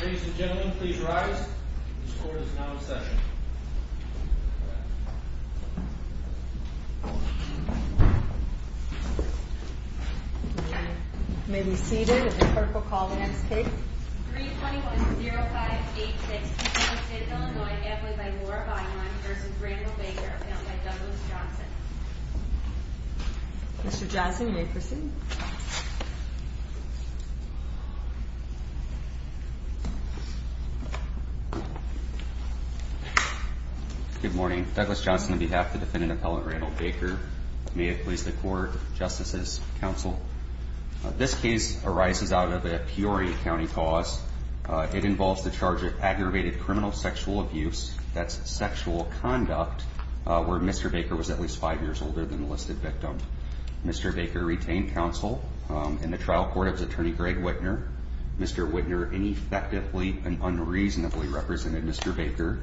Ladies and gentlemen, please rise. This court is now in session. May we be seated? If the clerk will call the next case. 321-0586, Keystone City, Illinois. Amplified by Laura Bynum v. Randall Baker, appealed by Douglas Johnson. Mr. Johnson, you may proceed. Good morning. Douglas Johnson on behalf of the defendant, Appellant Randall Baker. May it please the Court, Justices, Counsel. This case arises out of a Peoria County cause. It involves the charge of aggravated criminal sexual abuse, that's sexual conduct, where Mr. Baker was at least five years older than the listed victim. Mr. Baker retained counsel. In the trial court, it was Attorney Greg Wittner. Mr. Wittner ineffectively and unreasonably represented Mr. Baker.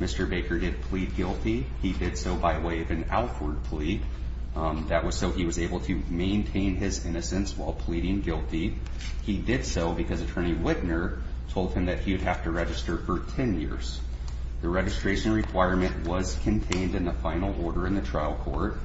Mr. Baker did plead guilty. He did so by way of an outward plea. That was so he was able to maintain his innocence while pleading guilty. He did so because Attorney Wittner told him that he would have to register for 10 years. The registration requirement was contained in the final order in the trial court.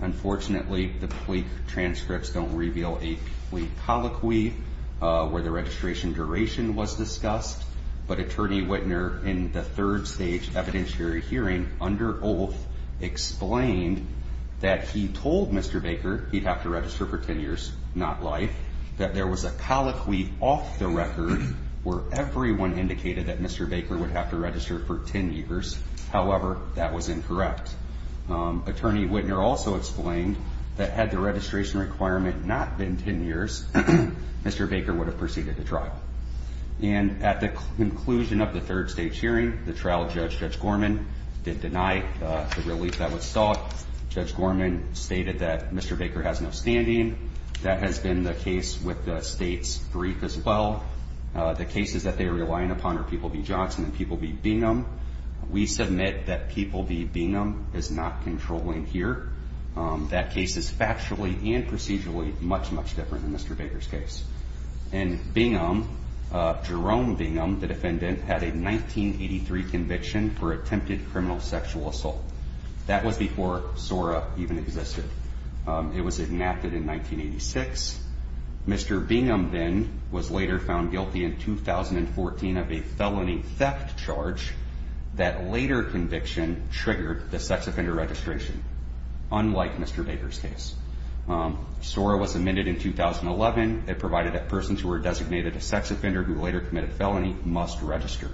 Unfortunately, the plea transcripts don't reveal a plea colloquy where the registration duration was discussed. But Attorney Wittner, in the third stage evidentiary hearing, under oath, explained that he told Mr. Baker he'd have to register for 10 years, not life. That there was a colloquy off the record where everyone indicated that Mr. Baker would have to register for 10 years. However, that was incorrect. Attorney Wittner also explained that had the registration requirement not been 10 years, Mr. Baker would have proceeded the trial. And at the conclusion of the third stage hearing, the trial judge, Judge Gorman, did deny the relief that was sought. Judge Gorman stated that Mr. Baker has no standing. That has been the case with the state's brief as well. The cases that they are relying upon are People v. Johnson and People v. Bingham. We submit that People v. Bingham is not controlling here. That case is factually and procedurally much, much different than Mr. Baker's case. And Bingham, Jerome Bingham, the defendant, had a 1983 conviction for attempted criminal sexual assault. That was before SORA even existed. It was enacted in 1986. Mr. Bingham then was later found guilty in 2014 of a felony theft charge that later conviction triggered the sex offender registration, unlike Mr. Baker's case. SORA was amended in 2011. It provided that persons who were designated a sex offender who later committed a felony must register.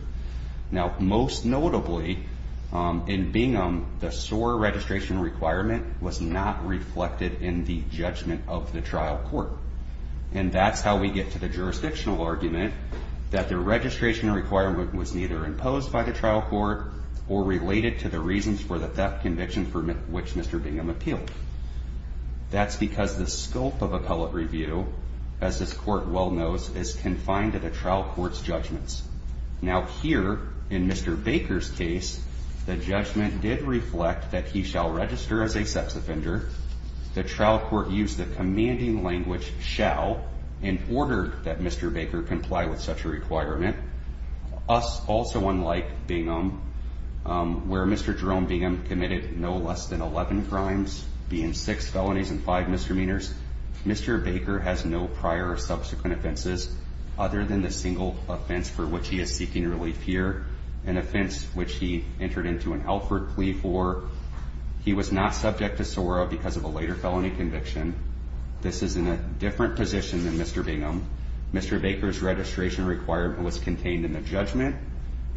Now, most notably, in Bingham, the SORA registration requirement was not reflected in the judgment of the trial court. And that's how we get to the jurisdictional argument that the registration requirement was neither imposed by the trial court or related to the reasons for the theft conviction for which Mr. Bingham appealed. That's because the scope of appellate review, as this court well knows, is confined to the trial court's judgments. Now, here, in Mr. Baker's case, the judgment did reflect that he shall register as a sex offender. The trial court used the commanding language, shall, in order that Mr. Baker comply with such a requirement. Us, also unlike Bingham, where Mr. Jerome Bingham committed no less than 11 crimes, being six felonies and five misdemeanors, Mr. Baker has no prior or subsequent offenses other than the single offense for which he is seeking relief here, an offense which he entered into an Alford plea for. He was not subject to SORA because of a later felony conviction. This is in a different position than Mr. Bingham. Mr. Baker's registration requirement was contained in the judgment.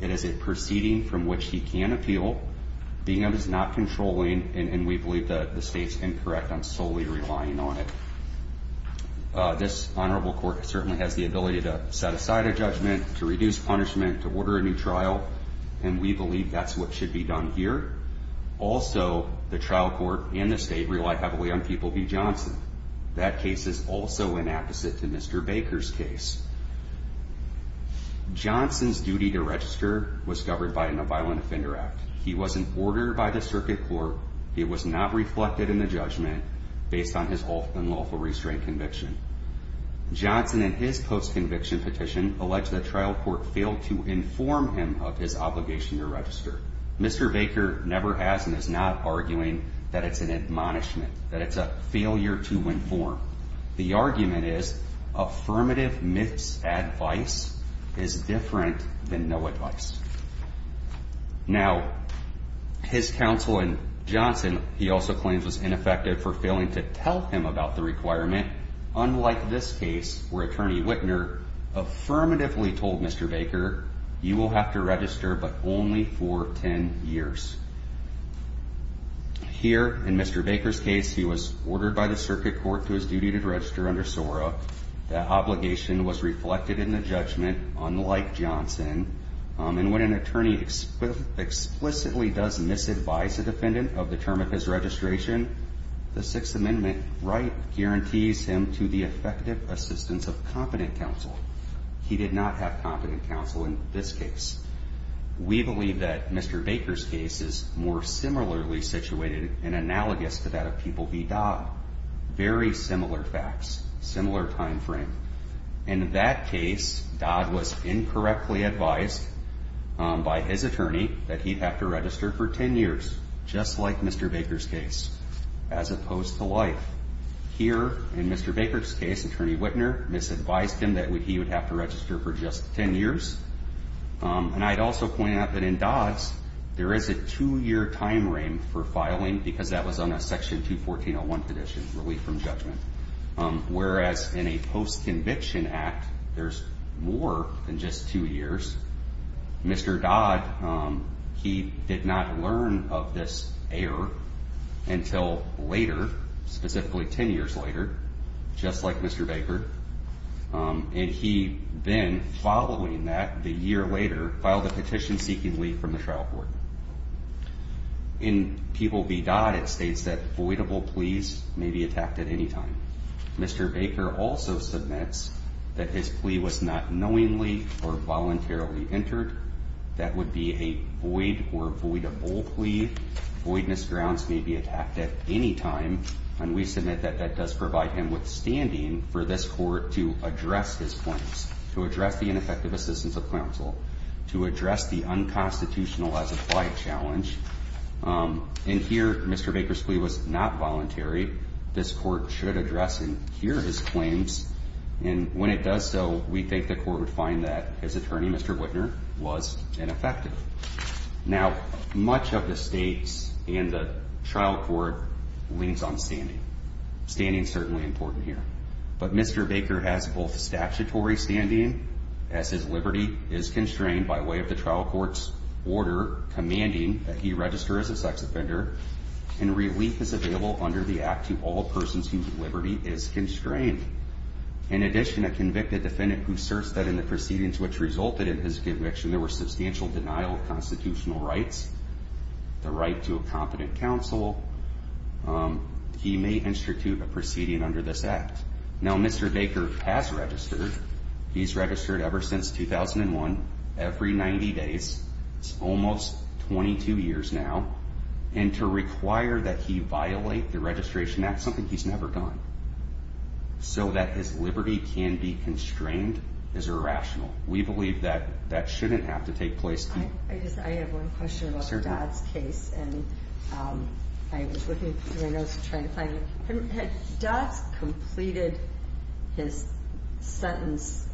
It is a proceeding from which he can appeal. Bingham is not controlling, and we believe that the state's incorrect on solely relying on it. This honorable court certainly has the ability to set aside a judgment, to reduce punishment, to order a new trial, and we believe that's what should be done here. Also, the trial court and the state rely heavily on People v. Johnson. That case is also an apposite to Mr. Baker's case. Johnson's duty to register was governed by a violent offender act. He was in order by the circuit court. It was not reflected in the judgment based on his unlawful restraint conviction. Johnson, in his post-conviction petition, alleged the trial court failed to inform him of his obligation to register. Mr. Baker never has and is not arguing that it's an admonishment, that it's a failure to inform. The argument is affirmative misadvice is different than no advice. Now, his counsel in Johnson, he also claims, was ineffective for failing to tell him about the requirement, unlike this case where Attorney Wittner affirmatively told Mr. Baker, you will have to register but only for 10 years. Here, in Mr. Baker's case, he was ordered by the circuit court to his duty to register under SORA. That obligation was reflected in the judgment, unlike Johnson. And when an attorney explicitly does misadvise a defendant of the term of his registration, the Sixth Amendment right guarantees him to the effective assistance of competent counsel. He did not have competent counsel in this case. We believe that Mr. Baker's case is more similarly situated and analogous to that of People v. Dodd. Very similar facts, similar time frame. In that case, Dodd was incorrectly advised by his attorney that he'd have to register for 10 years, just like Mr. Baker's case. As opposed to life. Here, in Mr. Baker's case, Attorney Wittner misadvised him that he would have to register for just 10 years. And I'd also point out that in Dodd's, there is a two-year time frame for filing because that was on a Section 214.01 condition, relief from judgment. Whereas in a post-conviction act, there's more than just two years. Mr. Dodd, he did not learn of this error until later, specifically 10 years later, just like Mr. Baker. And he then, following that, the year later, filed a petition seeking leave from the trial court. In People v. Dodd, it states that voidable pleas may be attacked at any time. Mr. Baker also submits that his plea was not knowingly or voluntarily entered. That would be a void or voidable plea. Voidness grounds may be attacked at any time. And we submit that that does provide him with standing for this court to address his claims. To address the ineffective assistance of counsel. To address the unconstitutional as-applied challenge. And here, Mr. Baker's plea was not voluntary. This court should address and hear his claims. And when it does so, we think the court would find that his attorney, Mr. Wittner, was ineffective. Now, much of the states and the trial court leans on standing. Standing is certainly important here. But Mr. Baker has both statutory standing, as his liberty is constrained by way of the trial court's order commanding that he register as a sex offender. And relief is available under the Act to all persons whose liberty is constrained. In addition, a convicted defendant who asserts that in the proceedings which resulted in his conviction, there was substantial denial of constitutional rights, the right to a competent counsel, he may institute a proceeding under this Act. Now, Mr. Baker has registered. He's registered ever since 2001, every 90 days. It's almost 22 years now. And to require that he violate the registration, that's something he's never done. So that his liberty can be constrained is irrational. We believe that that shouldn't have to take place. I have one question about Dodd's case. And I was looking through my notes to try to find it. Dodd's completed his sentence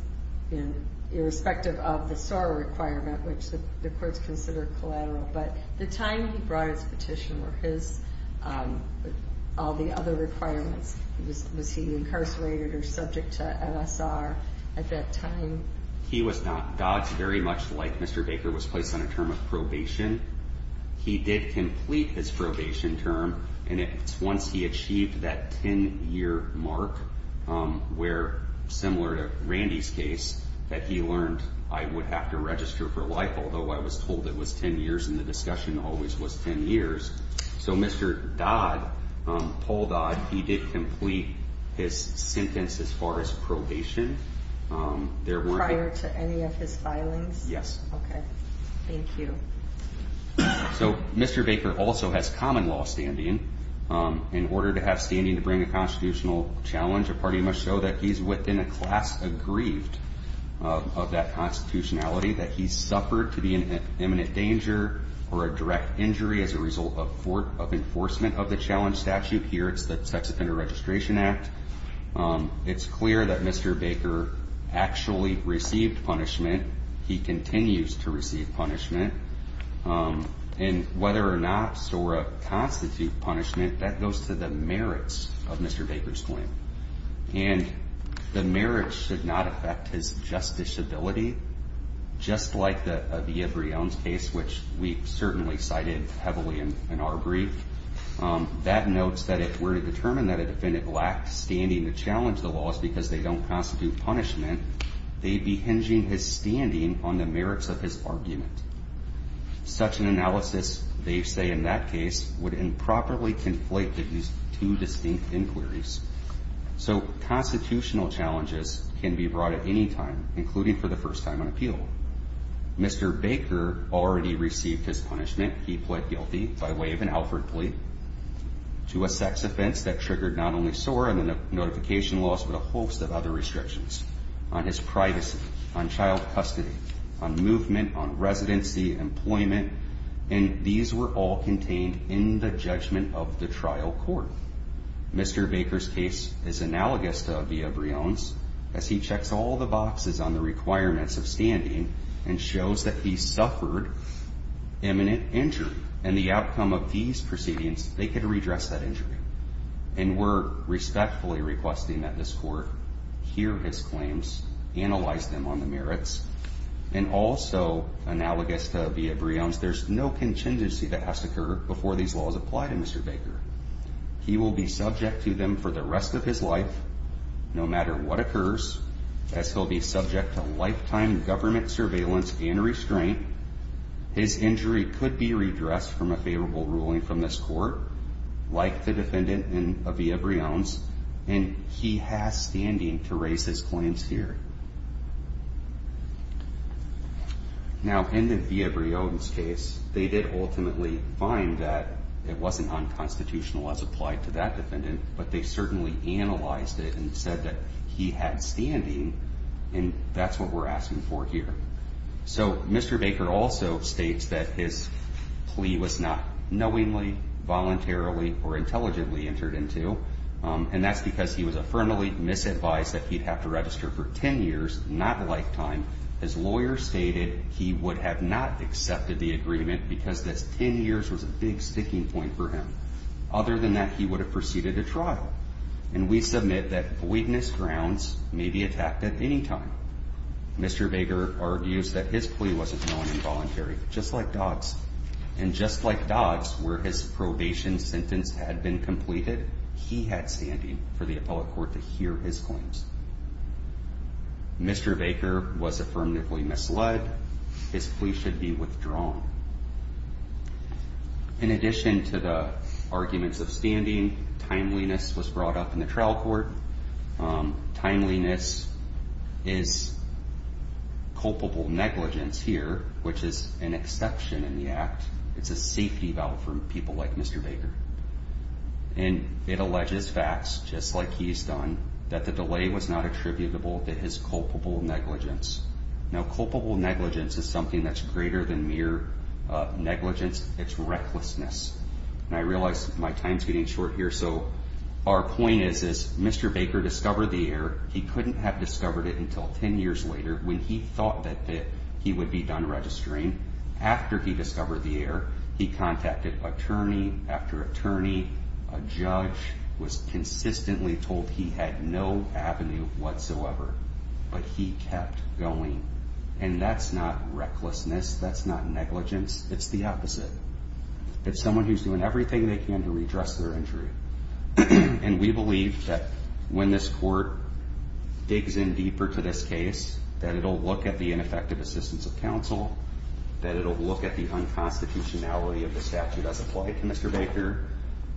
irrespective of the SOAR requirement, which the courts consider collateral. But the time he brought his petition were his, all the other requirements. Was he incarcerated or subject to MSR at that time? He was not. Dodd, very much like Mr. Baker, was placed on a term of probation. He did complete his probation term, and it's once he achieved that 10-year mark where, similar to Randy's case, that he learned, I would have to register for life, although I was told it was 10 years, and the discussion always was 10 years. So Mr. Dodd, Paul Dodd, he did complete his sentence as far as probation. Prior to any of his filings? Yes. Okay. Thank you. So Mr. Baker also has common law standing. In order to have standing to bring a constitutional challenge, a party must show that he's within a class aggrieved of that constitutionality, that he suffered to be in imminent danger or a direct injury as a result of enforcement of the challenge statute. Here it's the Sex Offender Registration Act. It's clear that Mr. Baker actually received punishment. He continues to receive punishment. And whether or not SORA constitute punishment, that goes to the merits of Mr. Baker's claim. And the merits should not affect his justiceability, just like the Aviv Rion's case, which we certainly cited heavily in our brief. That notes that if we're to determine that a defendant lacked standing to challenge the laws because they don't constitute punishment, they'd be hinging his standing on the merits of his argument. Such an analysis, they say in that case, would improperly conflate these two distinct inquiries. So constitutional challenges can be brought at any time, including for the first time on appeal. Mr. Baker already received his punishment. He pled guilty by way of an Alfred plea to a sex offense that triggered not only SORA and the notification laws, but a host of other restrictions on his privacy, on child custody, on movement, on residency, employment. And these were all contained in the judgment of the trial court. Mr. Baker's case is analogous to Aviv Rion's, as he checks all the boxes on the requirements of standing and shows that he suffered imminent injury. And the outcome of these proceedings, they could redress that injury. And we're respectfully requesting that this court hear his claims, analyze them on the merits, and also analogous to Aviv Rion's, there's no contingency that has to occur before these laws apply to Mr. Baker. He will be subject to them for the rest of his life, no matter what occurs, as he'll be subject to lifetime government surveillance and restraint. His injury could be redressed from a favorable ruling from this court, like the defendant in Aviv Rion's, and he has standing to raise his claims here. Now, in the Aviv Rion's case, they did ultimately find that it wasn't unconstitutional as applied to that defendant, but they certainly analyzed it and said that he had standing, and that's what we're asking for here. So Mr. Baker also states that his plea was not knowingly, voluntarily, or intelligently entered into, and that's because he was affirmatively misadvised that he'd have to register for 10 years, not a lifetime. His lawyer stated he would have not accepted the agreement because this 10 years was a big sticking point for him. Other than that, he would have proceeded to trial, and we submit that weakness grounds may be attacked at any time. Mr. Baker argues that his plea wasn't known involuntary, just like Dodd's, and just like Dodd's, where his probation sentence had been completed, he had standing for the appellate court to hear his claims. Mr. Baker was affirmatively misled. His plea should be withdrawn. In addition to the arguments of standing, timeliness was brought up in the trial court. Timeliness is culpable negligence here, which is an exception in the act. It's a safety vow from people like Mr. Baker, and it alleges facts, just like he's done, that the delay was not attributable to his culpable negligence. Now, culpable negligence is something that's greater than mere negligence. It's recklessness. And I realize my time's getting short here, so our point is, is Mr. Baker discovered the error. He couldn't have discovered it until 10 years later when he thought that he would be done registering. After he discovered the error, he contacted attorney after attorney. A judge was consistently told he had no avenue whatsoever, but he kept going. And that's not recklessness. That's not negligence. It's the opposite. It's someone who's doing everything they can to redress their injury. And we believe that when this court digs in deeper to this case, that it'll look at the ineffective assistance of counsel, that it'll look at the unconstitutionality of the statute as applied to Mr. Baker,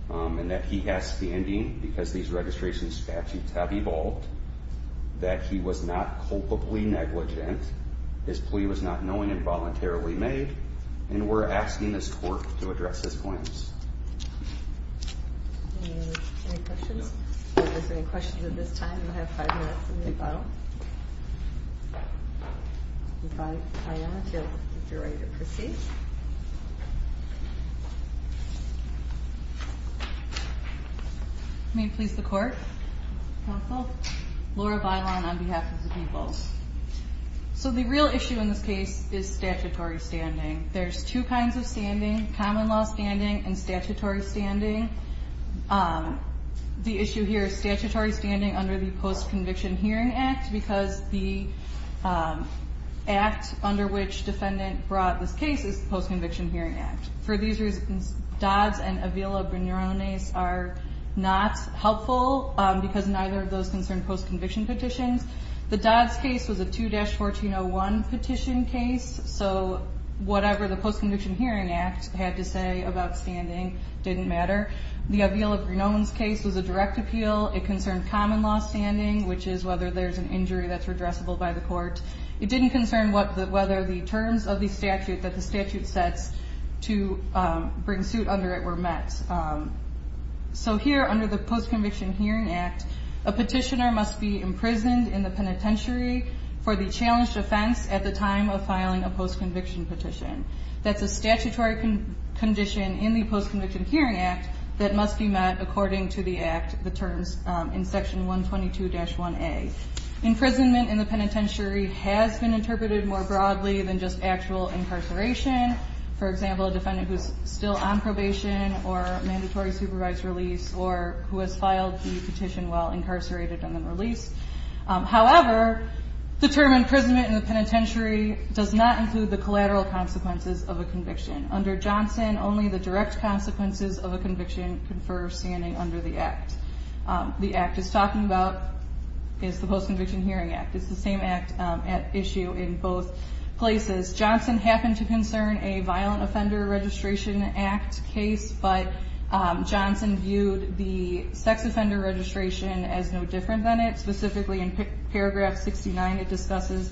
and that he has standing because these registration statutes have evolved, that he was not culpably negligent, his plea was not knowing and voluntarily made, and we're asking this court to address his claims. Any questions? If there's any questions at this time, you'll have five minutes in the final. If I am, if you're ready to proceed. May it please the court? Counsel? Laura Bailon on behalf of the people. So the real issue in this case is statutory standing. There's two kinds of standing, common law standing and statutory standing. The issue here is statutory standing under the Post-Conviction Hearing Act because the act under which defendant brought this case is the Post-Conviction Hearing Act. For these reasons, Dodd's and Avila-Bernione's are not helpful because neither of those concern post-conviction petitions. The Dodd's case was a 2-1401 petition case, so whatever the Post-Conviction Hearing Act had to say about standing didn't matter. The Avila-Bernione's case was a direct appeal. It concerned common law standing, which is whether there's an injury that's redressable by the court. It didn't concern whether the terms of the statute that the statute sets to bring suit under it were met. So here, under the Post-Conviction Hearing Act, a petitioner must be imprisoned in the penitentiary for the challenged offense at the time of filing a post-conviction petition. That's a statutory condition in the Post-Conviction Hearing Act that must be met according to the act, the terms in Section 122-1A. Imprisonment in the penitentiary has been interpreted more broadly than just actual incarceration. For example, a defendant who's still on probation or mandatory supervised release or who has filed the petition while incarcerated and then released. However, the term imprisonment in the penitentiary does not include the collateral consequences of a conviction. Under Johnson, only the direct consequences of a conviction confer standing under the act. The act it's talking about is the Post-Conviction Hearing Act. It's the same act at issue in both places. Johnson happened to concern a violent offender registration act case, but Johnson viewed the sex offender registration as no different than it. Specifically, in paragraph 69, it discusses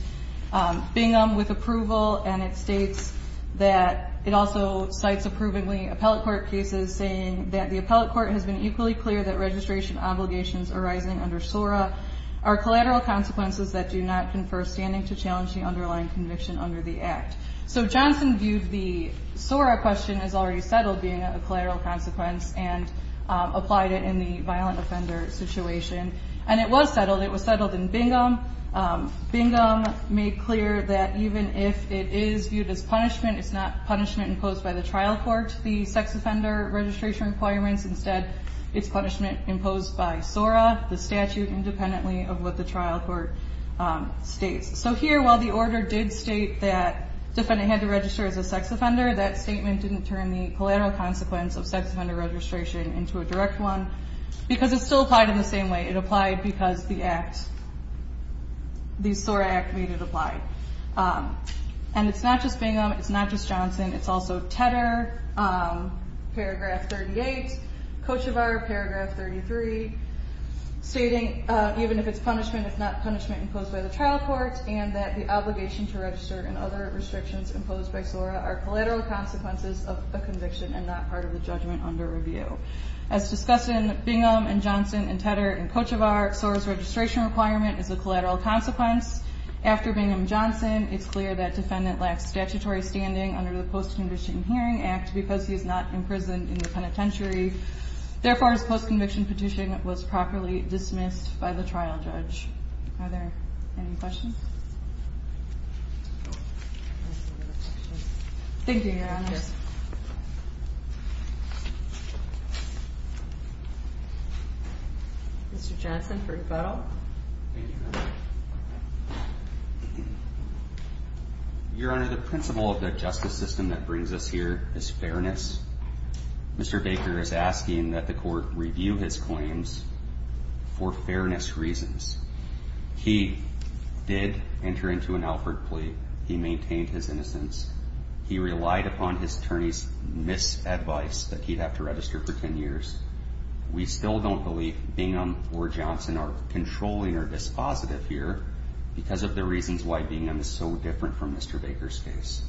Bingham with approval, and it states that it also cites approvingly appellate court cases, saying that the appellate court has been equally clear that registration obligations arising under SORA are collateral consequences that do not confer standing to challenge the underlying conviction under the act. So Johnson viewed the SORA question as already settled being a collateral consequence and applied it in the violent offender situation. And it was settled. It was settled in Bingham. Bingham made clear that even if it is viewed as punishment, it's not punishment imposed by the trial court, the sex offender registration requirements. Instead, it's punishment imposed by SORA, the statute, independently of what the trial court states. So here, while the order did state that the defendant had to register as a sex offender, that statement didn't turn the collateral consequence of sex offender registration into a direct one because it still applied in the same way. It applied because the SORA act made it apply. And it's not just Bingham. It's not just Johnson. It's also Tedder, paragraph 38, Kochevar, paragraph 33, stating even if it's punishment, it's not punishment imposed by the trial court, and that the obligation to register and other restrictions imposed by SORA are collateral consequences of a conviction and not part of the judgment under review. As discussed in Bingham and Johnson and Tedder and Kochevar, SORA's registration requirement is a collateral consequence. After Bingham-Johnson, it's clear that defendant lacks statutory standing under the Post-Conviction Hearing Act because he is not imprisoned in the penitentiary. Therefore, his post-conviction petition was properly dismissed by the trial judge. Are there any questions? Thank you, Your Honor. Mr. Johnson for rebuttal. Your Honor, the principle of the justice system that brings us here is fairness. Mr. Baker is asking that the court review his claims for fairness reasons. He did enter into an Alford plea. He maintained his innocence. He relied upon his attorney's misadvice that he'd have to register for 10 years. We still don't believe Bingham or Johnson are controlling or dispositive here because of the reasons why Bingham is so different from Mr. Baker's case.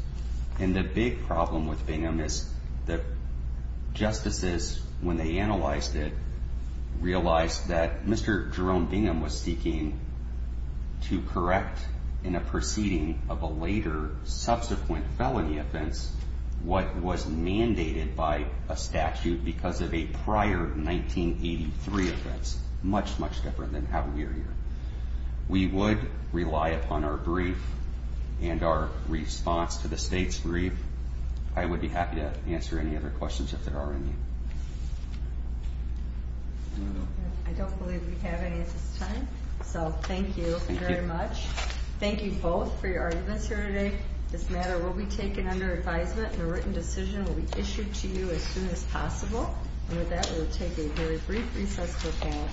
And the big problem with Bingham is that justices, when they analyzed it, realized that Mr. Jerome Bingham was seeking to correct in a proceeding of a later, subsequent felony offense what was mandated by a statute because of a prior 1983 offense, much, much different than how we are here. We would rely upon our brief and our response to the state's brief. I would be happy to answer any other questions if there are any. I don't believe we have any at this time, so thank you very much. Thank you both for your arguments here today. This matter will be taken under advisement, and a written decision will be issued to you as soon as possible. And with that, we will take a very brief recess for the panel.